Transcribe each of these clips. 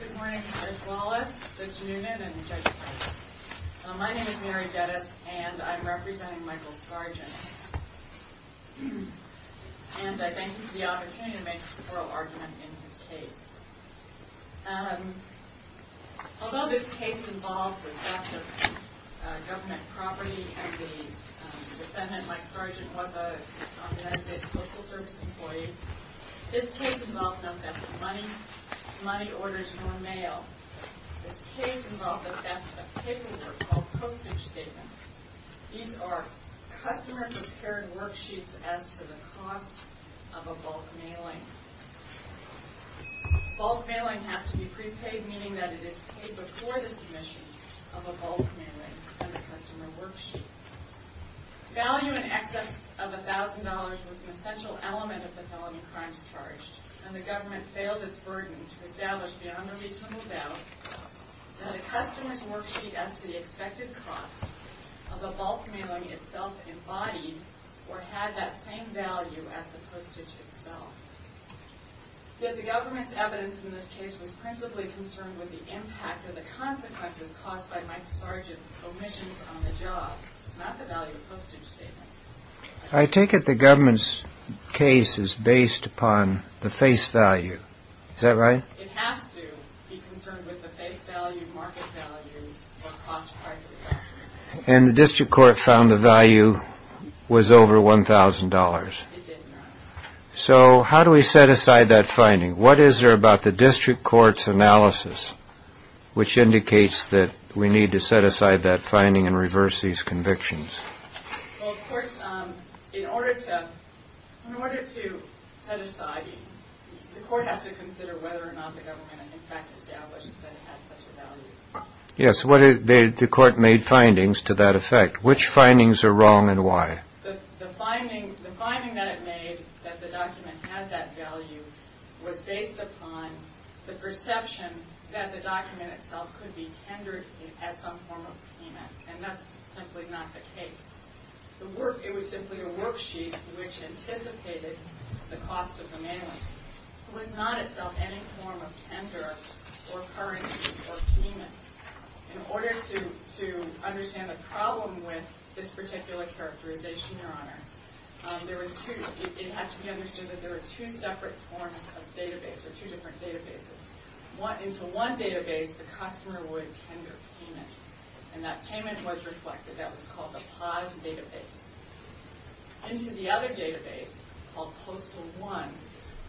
Good morning, Judge Wallace, Judge Noonan, and Judge Price. My name is Mary Geddes, and I'm representing Michael Sargent. And I thank him for the opportunity to make an oral argument in his case. Although this case involves the theft of government property, and the defendant, Mike Sargent, was a United States Postal Service employee, this case involves the theft of money, money orders from a mail. This case involved the theft of paperwork called postage statements. These are customer-prepared worksheets as to the cost of a bulk mailing. Bulk mailing has to be prepaid, meaning that it is paid before the submission of a bulk mailing and a customer worksheet. Value in excess of $1,000 was an essential element of the felony crimes charged, and the government failed its burden to establish beyond a reasonable doubt that a customer's worksheet as to the expected cost of a bulk mailing itself embodied or had that same value as the postage itself. Yet the government's evidence in this case was principally concerned with the impact and the consequences caused by Mike Sargent's omissions on the job, not the value of postage statements. I take it the government's case is based upon the face value. Is that right? It has to be concerned with the face value, market value, or cost price of the document. And the district court found the value was over $1,000. It did not. So how do we set aside that finding? What is there about the district court's analysis which indicates that we need to set aside that finding and reverse these convictions? Well, of course, in order to set aside, the court has to consider whether or not the government in fact established that it had such a value. Yes, the court made findings to that effect. Which findings are wrong and why? The finding that it made that the document had that value was based upon the perception that the document itself could be tendered as some form of payment. And that's simply not the case. It was simply a worksheet which anticipated the cost of the mailing. It was not itself any form of tender or currency or payment. In order to understand the problem with this particular characterization, Your Honor, it had to be understood that there were two separate forms of database or two different databases. Into one database, the customer would tender payment. And that payment was reflected. That was called the POS database. Into the other database, called Postal 1,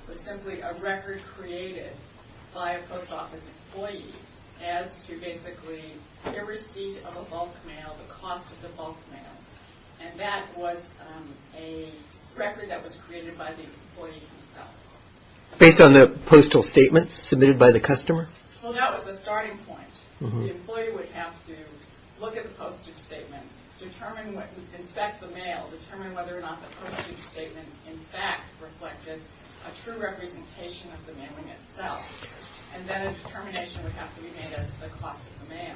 was simply a record created by a post office employee as to basically the receipt of a bulk mail, the cost of the bulk mail. And that was a record that was created by the employee himself. Based on the postal statement submitted by the customer? Well, that was the starting point. The employee would have to look at the postal statement, inspect the mail, determine whether or not the postal statement in fact reflected a true representation of the mailing itself. And then a determination would have to be made as to the cost of the mail.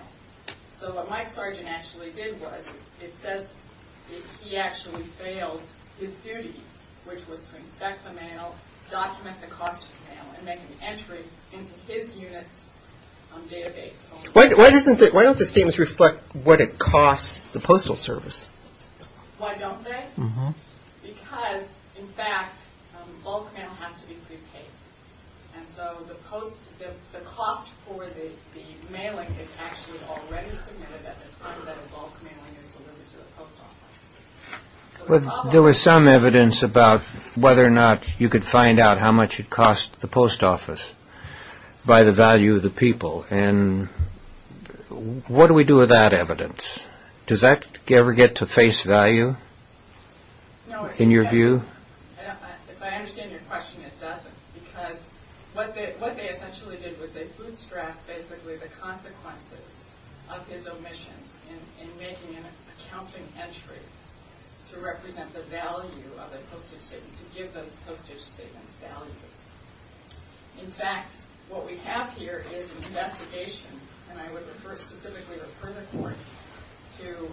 So what Mike Sargent actually did was he actually failed his duty, which was to inspect the mail, document the cost of the mail, and make an entry into his unit's database. Why don't the statements reflect what it costs the postal service? Why don't they? Because, in fact, bulk mail has to be prepaid. And so the cost for the mailing is actually already submitted after that bulk mailing is delivered to a post office. There was some evidence about whether or not you could find out how much it cost the post office by the value of the people. And what do we do with that evidence? Does that ever get to face value, in your view? If I understand your question, it doesn't. Because what they essentially did was they bootstrap, basically, the consequences of his omissions in making an accounting entry to represent the value of a postage statement, to give those postage statements value. In fact, what we have here is an investigation, and I would refer specifically or further court to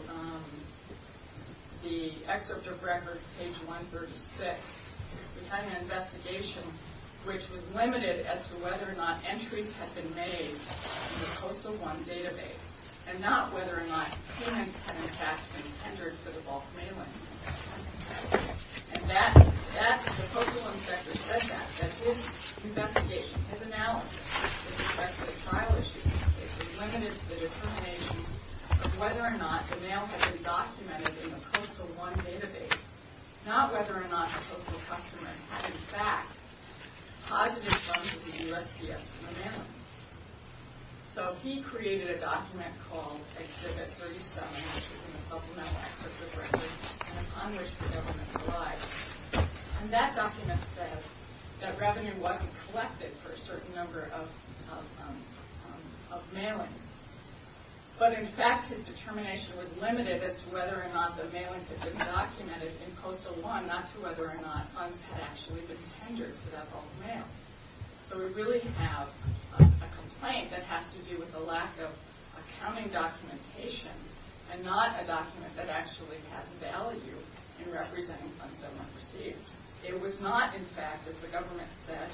the excerpt of record, page 136. We had an investigation which was limited as to whether or not entries had been made in the Postal 1 database, and not whether or not payments had, in fact, been tendered for the bulk mailing. And the Postal 1 inspector said that. His investigation, his analysis, in respect to the trial issue, is limited to the determination of whether or not the mail had been documented in the Postal 1 database, not whether or not the postal customer had, in fact, posited funds to the USPS for the mailing. So he created a document called Exhibit 37, which is in the supplemental excerpt of the record, and upon which the government relies. And that document says that revenue wasn't collected for a certain number of mailings. But, in fact, his determination was limited as to whether or not the mailings had been documented in Postal 1, not to whether or not funds had actually been tendered for that bulk mail. So we really have a complaint that has to do with the lack of accounting documentation, and not a document that actually has value in representing funds that weren't received. It was not, in fact, as the government said,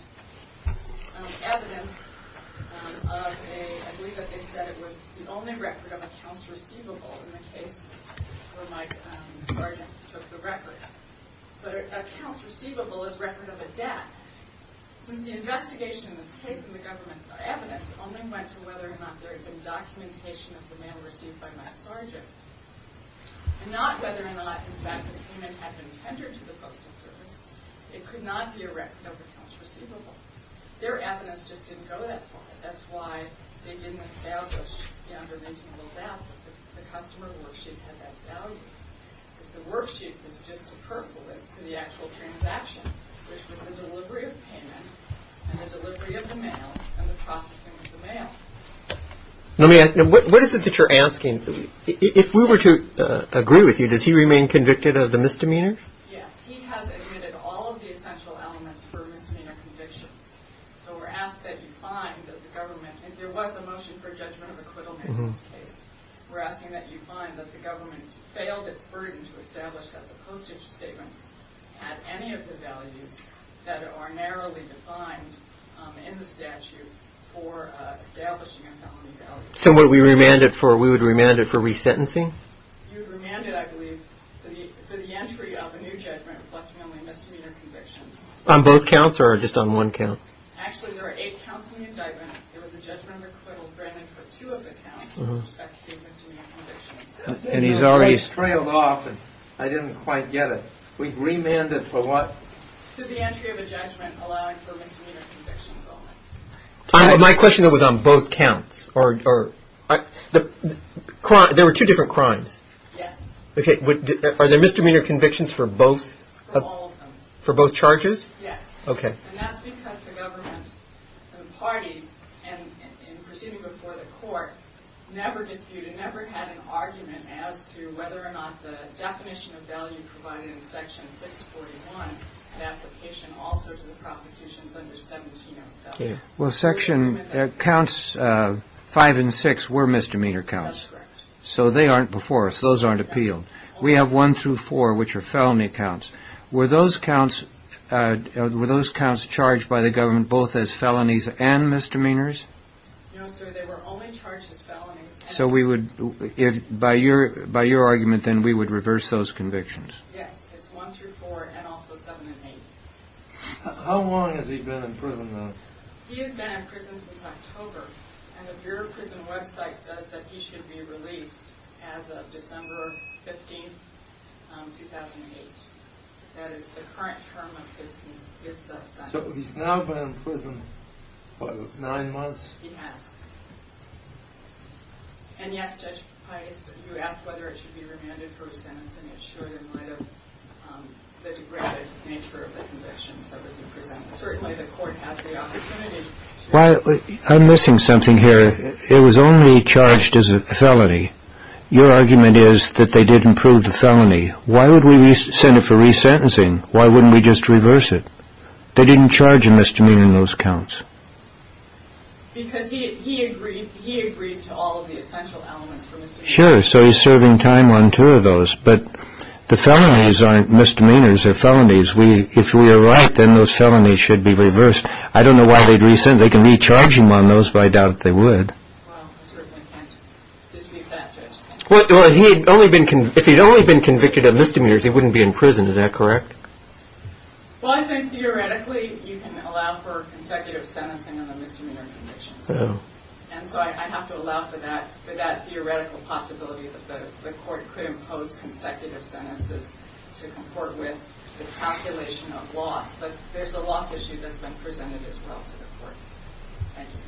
evidence of a... I believe that they said it was the only record of accounts receivable in the case where my sergeant took the record. But accounts receivable is record of a debt. Since the investigation in this case and the government's evidence only went to whether or not there had been documentation of the mail received by my sergeant, and not whether or not, in fact, the payment had been tendered to the Postal Service, it could not be a record of accounts receivable. Their evidence just didn't go that far. That's why they didn't establish beyond a reasonable doubt that the customer worksheet had that value, that the worksheet was just superfluous to the actual transaction, which was the delivery of payment and the delivery of the mail and the processing of the mail. Let me ask you, what is it that you're asking? If we were to agree with you, does he remain convicted of the misdemeanor? Yes, he has admitted all of the essential elements for a misdemeanor conviction. So we're asked that you find that the government, if there was a motion for judgment of acquittal in this case, we're asking that you find that the government failed its burden to establish that the postage statements had any of the values that are narrowly defined in the statute for establishing a felony value. So we would remand it for resentencing? You would remand it, I believe, for the entry of a new judgment reflecting only misdemeanor convictions. On both counts or just on one count? Actually, there are eight counts in the indictment. There was a judgment of acquittal granted for two of the counts with respect to misdemeanor convictions. And he's already – It's trailed off and I didn't quite get it. We'd remand it for what? For the entry of a judgment allowing for misdemeanor convictions only. My question was on both counts. There were two different crimes. Yes. Are there misdemeanor convictions for both? For all of them. For both charges? Yes. Okay. And that's because the government, the parties, in proceeding before the court, never disputed, never had an argument as to whether or not the definition of value provided in Section 641 in application also to the prosecutions under 1707. Well, Section – counts five and six were misdemeanor counts. That's correct. So they aren't before us. Those aren't appealed. We have one through four, which are felony counts. Were those counts charged by the government both as felonies and misdemeanors? No, sir. They were only charged as felonies. So by your argument, then, we would reverse those convictions. Yes. It's one through four and also seven and eight. How long has he been in prison now? He has been in prison since October, and the Bureau of Prison website says that he should be released as of December 15, 2008. That is the current term of his sentence. So he's now been in prison for nine months? He has. And, yes, Judge Pius, you asked whether it should be remanded for a sentence, and it's sure in light of the degraded nature of the convictions that would be presented. Certainly the court has the opportunity to – I'm missing something here. It was only charged as a felony. Your argument is that they didn't prove the felony. Why would we send it for resentencing? Why wouldn't we just reverse it? They didn't charge a misdemeanor in those counts. Because he agreed to all of the essential elements for misdemeanor. Sure. So he's serving time on two of those. But the felonies aren't misdemeanors. They're felonies. If we are right, then those felonies should be reversed. I don't know why they'd resent. They can recharge him on those, but I doubt they would. Well, I certainly can't dispute that, Judge. Well, if he had only been convicted of misdemeanors, he wouldn't be in prison. Is that correct? Well, I think theoretically you can allow for consecutive sentencing on a misdemeanor conviction. And so I have to allow for that theoretical possibility that the court could impose consecutive sentences to comport with the calculation of loss. But there's a loss issue that's been presented as well to the court. Thank you.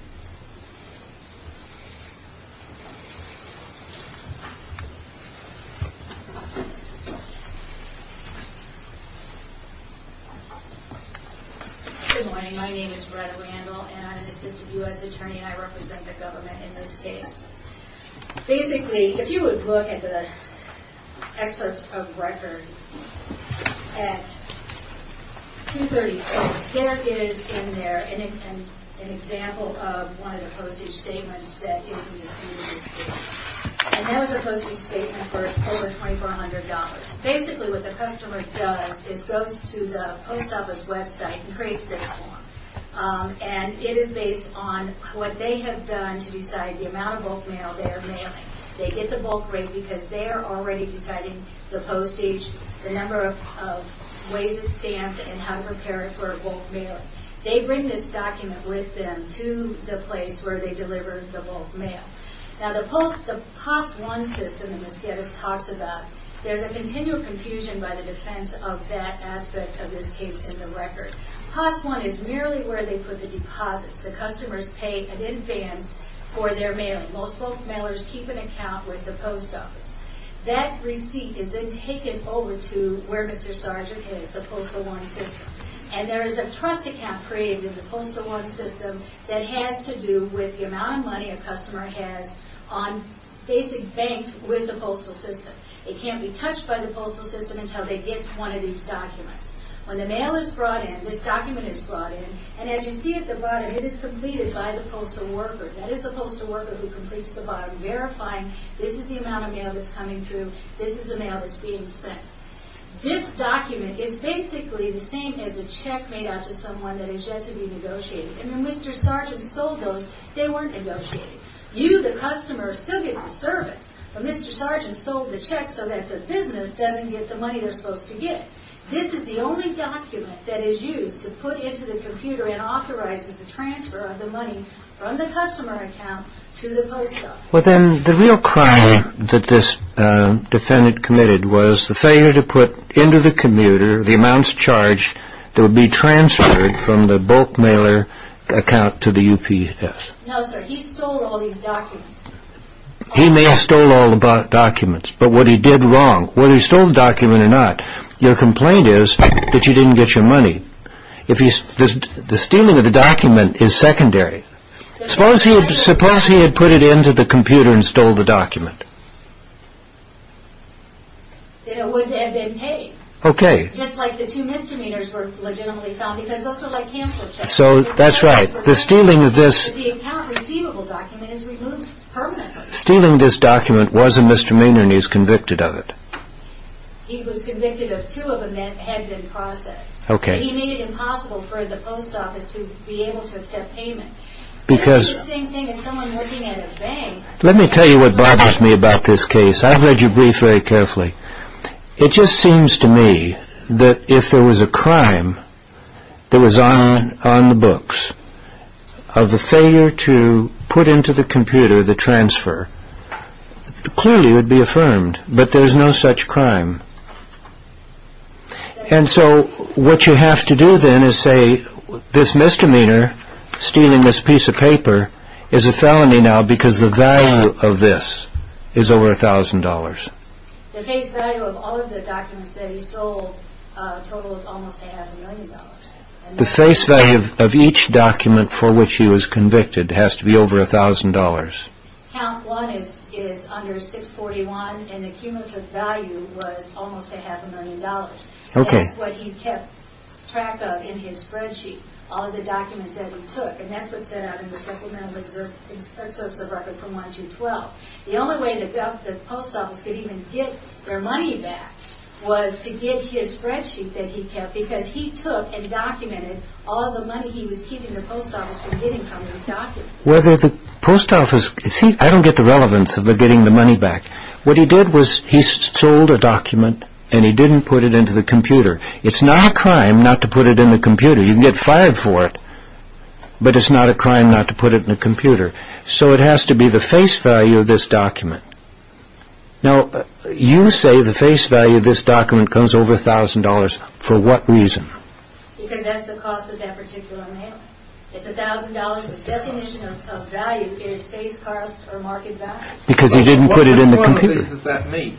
Good morning. My name is Brett Randall, and I'm an assistant U.S. attorney, and I represent the government in this case. Basically, if you would look at the excerpts of record at 236, there is in there an example of one of the postage statements that is in this case. And that was a postage statement for over $2,400. Basically, what the customer does is goes to the post office website and creates this form. And it is based on what they have done to decide the amount of bulk mail they are mailing. They get the bulk rate because they are already deciding the postage, the number of ways it's stamped, and how to prepare it for a bulk mail. They bring this document with them to the place where they deliver the bulk mail. Now, the POS1 system that Ms. Geddes talks about, there's a continual confusion by the defense of that aspect of this case in the record. POS1 is merely where they put the deposits. The customers pay in advance for their mailing. Most bulk mailers keep an account with the post office. That receipt is then taken over to where Mr. Sargent is, the POS1 system. And there is a trust account created in the POS1 system that has to do with the amount of money a customer has on basic banked with the POS1 system. It can't be touched by the POS1 system until they get one of these documents. When the mail is brought in, this document is brought in, and as you see it brought in, it is completed by the POS1 worker. That is the POS1 worker who completes the bottom, verifying this is the amount of mail that's coming through, this is the mail that's being sent. This document is basically the same as a check made out to someone that is yet to be negotiated. And when Mr. Sargent sold those, they weren't negotiated. You, the customer, still get the service, but Mr. Sargent sold the check so that the business doesn't get the money they're supposed to get. This is the only document that is used to put into the computer and authorizes the transfer of the money from the customer account to the post office. Well, then the real crime that this defendant committed was the failure to put into the computer the amounts charged that would be transferred from the bulk mailer account to the UPS. Now, sir, he stole all these documents. He may have stole all the documents, but what he did wrong, whether he stole the document or not, your complaint is that you didn't get your money. The stealing of the document is secondary. Suppose he had put it into the computer and stole the document. Then it wouldn't have been paid. Okay. Just like the two misdemeanors were legitimately found because those are like cancel checks. So, that's right. The stealing of this... The account receivable document is removed permanently. Stealing this document was a misdemeanor and he was convicted of it. He was convicted of two of them that had been processed. Okay. He made it impossible for the post office to be able to accept payment. Because... It's the same thing as someone working at a bank. Let me tell you what bothers me about this case. I've read your brief very carefully. It just seems to me that if there was a crime that was on the books, of the failure to put into the computer the transfer, clearly it would be affirmed, but there's no such crime. And so, what you have to do then is say, this misdemeanor, stealing this piece of paper, is a felony now because the value of this is over a thousand dollars. The face value of all of the documents that he stole totaled almost a half a million dollars. The face value of each document for which he was convicted has to be over a thousand dollars. Count one is under 641, and the cumulative value was almost a half a million dollars. Okay. That's what he kept track of in his spreadsheet, all of the documents that he took. And that's what's set out in the supplemental excerpts of record from 1212. The only way the post office could even get their money back was to get his spreadsheet that he kept, because he took and documented all the money he was keeping the post office from getting from these documents. Whether the post office... See, I don't get the relevance of getting the money back. What he did was he sold a document, and he didn't put it into the computer. It's not a crime not to put it in the computer. You can get fired for it, but it's not a crime not to put it in the computer. So it has to be the face value of this document. Now, you say the face value of this document comes over a thousand dollars. For what reason? Because that's the cost of that particular mail. It's a thousand dollars. His definition of value is face cost or market value. Because he didn't put it in the computer. What importance does that make?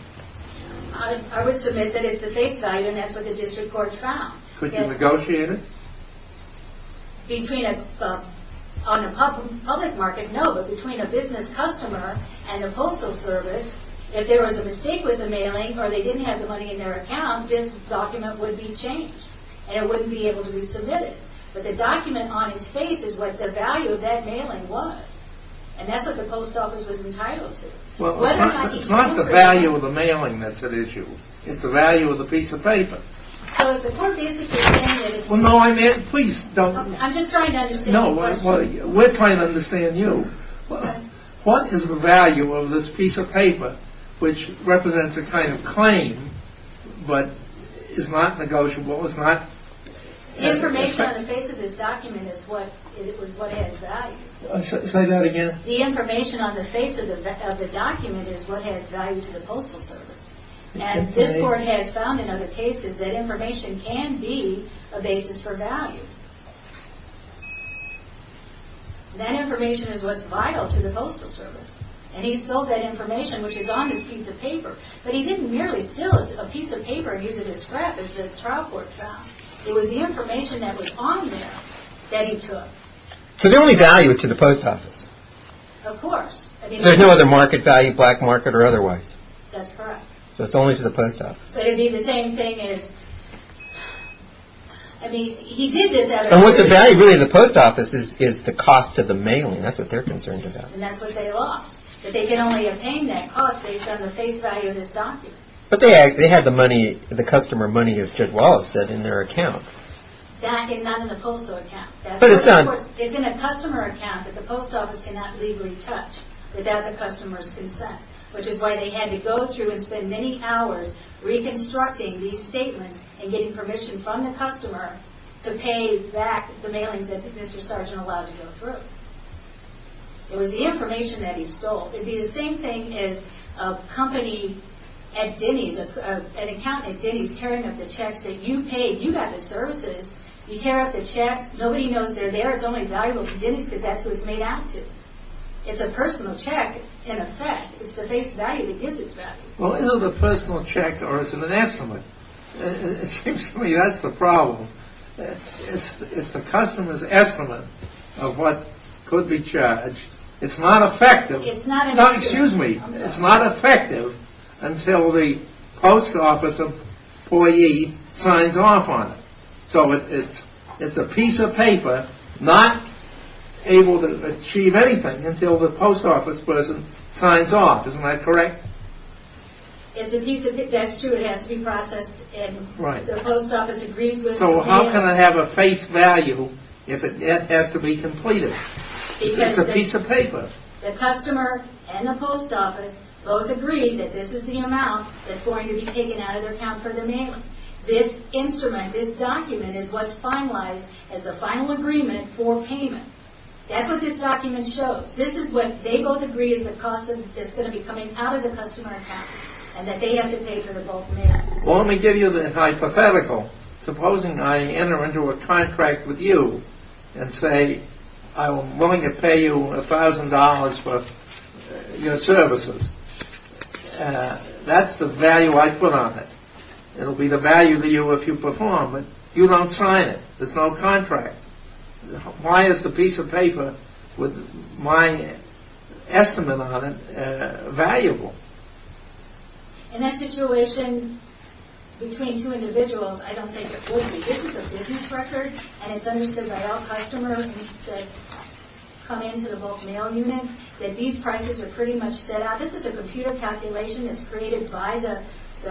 I would submit that it's the face value, and that's what the district court found. Could you negotiate it? On the public market, no, but between a business customer and the postal service, if there was a mistake with the mailing or they didn't have the money in their account, this document would be changed, and it wouldn't be able to be submitted. But the document on his face is what the value of that mailing was, and that's what the post office was entitled to. It's not the value of the mailing that's at issue. It's the value of the piece of paper. So is the court basically saying that it's... No, please don't... I'm just trying to understand your question. We're trying to understand you. What is the value of this piece of paper, which represents a kind of claim, but is not negotiable, is not... The information on the face of this document is what has value. Say that again. The information on the face of the document is what has value to the postal service, and this court has found in other cases that information can be a basis for value. That information is what's vital to the postal service, and he sold that information, which is on his piece of paper, but he didn't merely steal a piece of paper and use it as scrap, as the trial court found. It was the information that was on there that he took. So the only value is to the post office? Of course. There's no other market value, black market or otherwise? That's correct. So it's only to the post office. But it'd be the same thing as... I mean, he did this... And what's the value really of the post office is the cost of the mailing. That's what they're concerned about. And that's what they lost. That they can only obtain that cost based on the face value of this document. But they had the money, the customer money, as Judge Wallace said, in their account. That is not in the postal account. But it's on... It's in a customer account that the post office cannot legally touch without the customer's consent, which is why they had to go through and spend many hours reconstructing these statements and getting permission from the customer to pay back the mailings that Mr. Sargent allowed to go through. It was the information that he stole. It'd be the same thing as a company at Denny's, an accountant at Denny's tearing up the checks that you paid. You got the services. You tear up the checks. Nobody knows they're there. It's only valuable to Denny's because that's who it's made out to. It's a personal check, in effect. It's the face value that gives it value. Well, either the personal check or it's an estimate. It seems to me that's the problem. It's the customer's estimate of what could be charged. It's not effective. It's not an... No, excuse me. It's not effective until the post office employee signs off on it. So it's a piece of paper not able to achieve anything until the post office person signs off. Isn't that correct? It's a piece of paper. That's true. It has to be processed and the post office agrees with it. So how can it have a face value if it has to be completed? Because it's a piece of paper. The customer and the post office both agree that this is the amount that's going to be taken out of their account for the mail. This instrument, this document is what's finalized as a final agreement for payment. That's what this document shows. This is what they both agree is the cost that's going to be coming out of the customer account and that they have to pay for the bulk mail. Well, let me give you the hypothetical. Supposing I enter into a contract with you and say I'm willing to pay you $1,000 for your services. That's the value I put on it. It'll be the value to you if you perform, but you don't sign it. There's no contract. Why is the piece of paper with my estimate on it valuable? In that situation, between two individuals, I don't think it would be. This is a business record and it's understood by all customers that come into the bulk mail unit that these prices are pretty much set out. This is a computer calculation that's created by the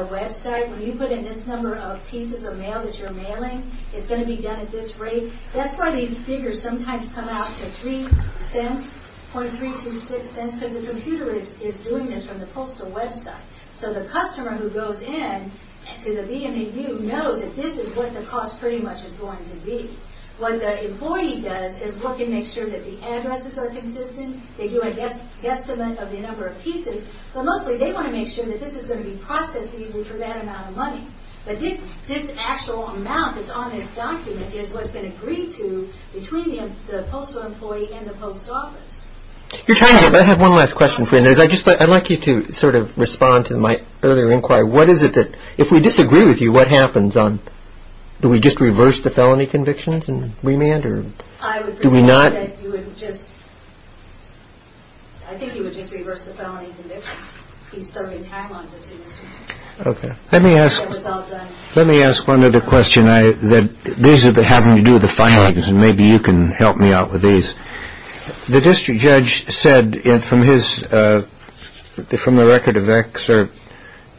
website. When you put in this number of pieces of mail that you're mailing, it's going to be done at this rate. That's why these figures sometimes come out to three cents, .326 cents, because the computer is doing this from the postal website. So the customer who goes in to the BNAU knows that this is what the cost pretty much is going to be. What the employee does is look and make sure that the addresses are consistent. They do a guesstimate of the number of pieces, but mostly they want to make sure that this is going to be processed easily for that amount of money. But this actual amount that's on this document is what's been agreed to between the postal employee and the post office. I have one last question for you. I'd like you to sort of respond to my earlier inquiry. What is it that, if we disagree with you, what happens? Do we just reverse the felony convictions and remand or do we not? I think you would just reverse the felony convictions. Let me ask one other question. These are having to do with the findings, and maybe you can help me out with these. The district judge said from the record of Excerpt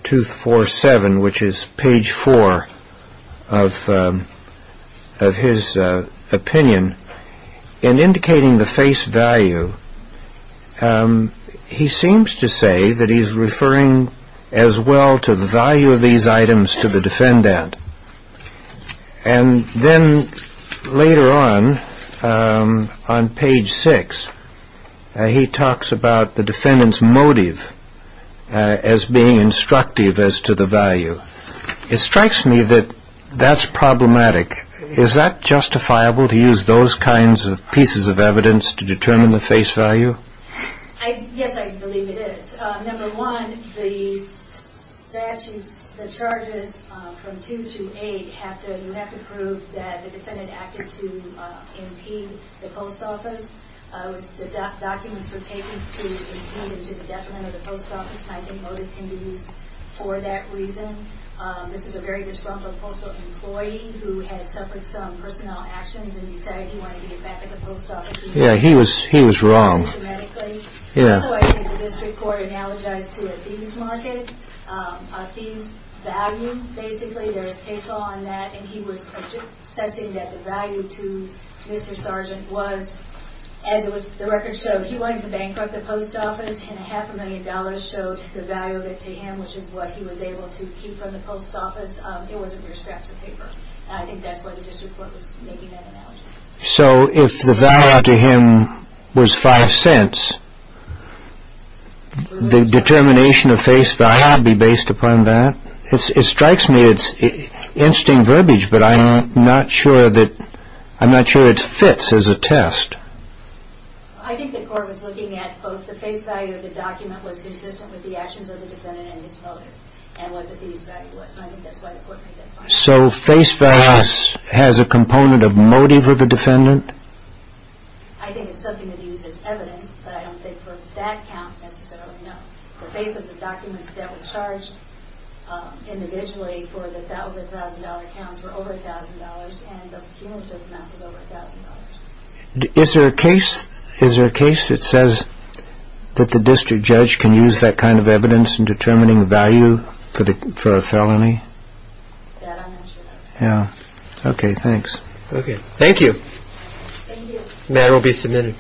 247, which is page four of his opinion, in indicating the face value, he seems to say that he's referring as well to the value of these items to the defendant. And then later on, on page six, he talks about the defendant's motive as being instructive as to the value. It strikes me that that's problematic. Is that justifiable to use those kinds of pieces of evidence to determine the face value? Yes, I believe it is. Number one, the statutes, the charges from two to eight, you have to prove that the defendant acted to impede the post office. The documents were taken to impede and to the detriment of the post office. I think motive can be used for that reason. This is a very disruptive postal employee who had suffered some personnel actions and decided he wanted to get back at the post office. Yeah, he was wrong. Also, I think the district court analogized to a theme's market, a theme's value, basically. There's case law on that, and he was assessing that the value to Mr. Sergeant was, as the record showed, he wanted to bankrupt the post office, and a half a million dollars showed the value of it to him, which is what he was able to keep from the post office. It wasn't mere scraps of paper. I think that's why the district court was making that analogy. So if the value to him was five cents, the determination of face value would be based upon that? It strikes me it's interesting verbiage, but I'm not sure that it fits as a test. I think the court was looking at both the face value of the document was consistent with the actions of the defendant and his motive, and what the case value was, and I think that's why the court made that point. So face value has a component of motive of the defendant? I think it's something that uses evidence, but I don't think for that count necessarily, no. The face of the documents that were charged individually for the over $1,000 counts were over $1,000, and the cumulative amount was over $1,000. Is there a case that says that the district judge can use that kind of evidence in determining value for a felony? I'm not sure. Okay, thanks. Thank you. The matter will be submitted.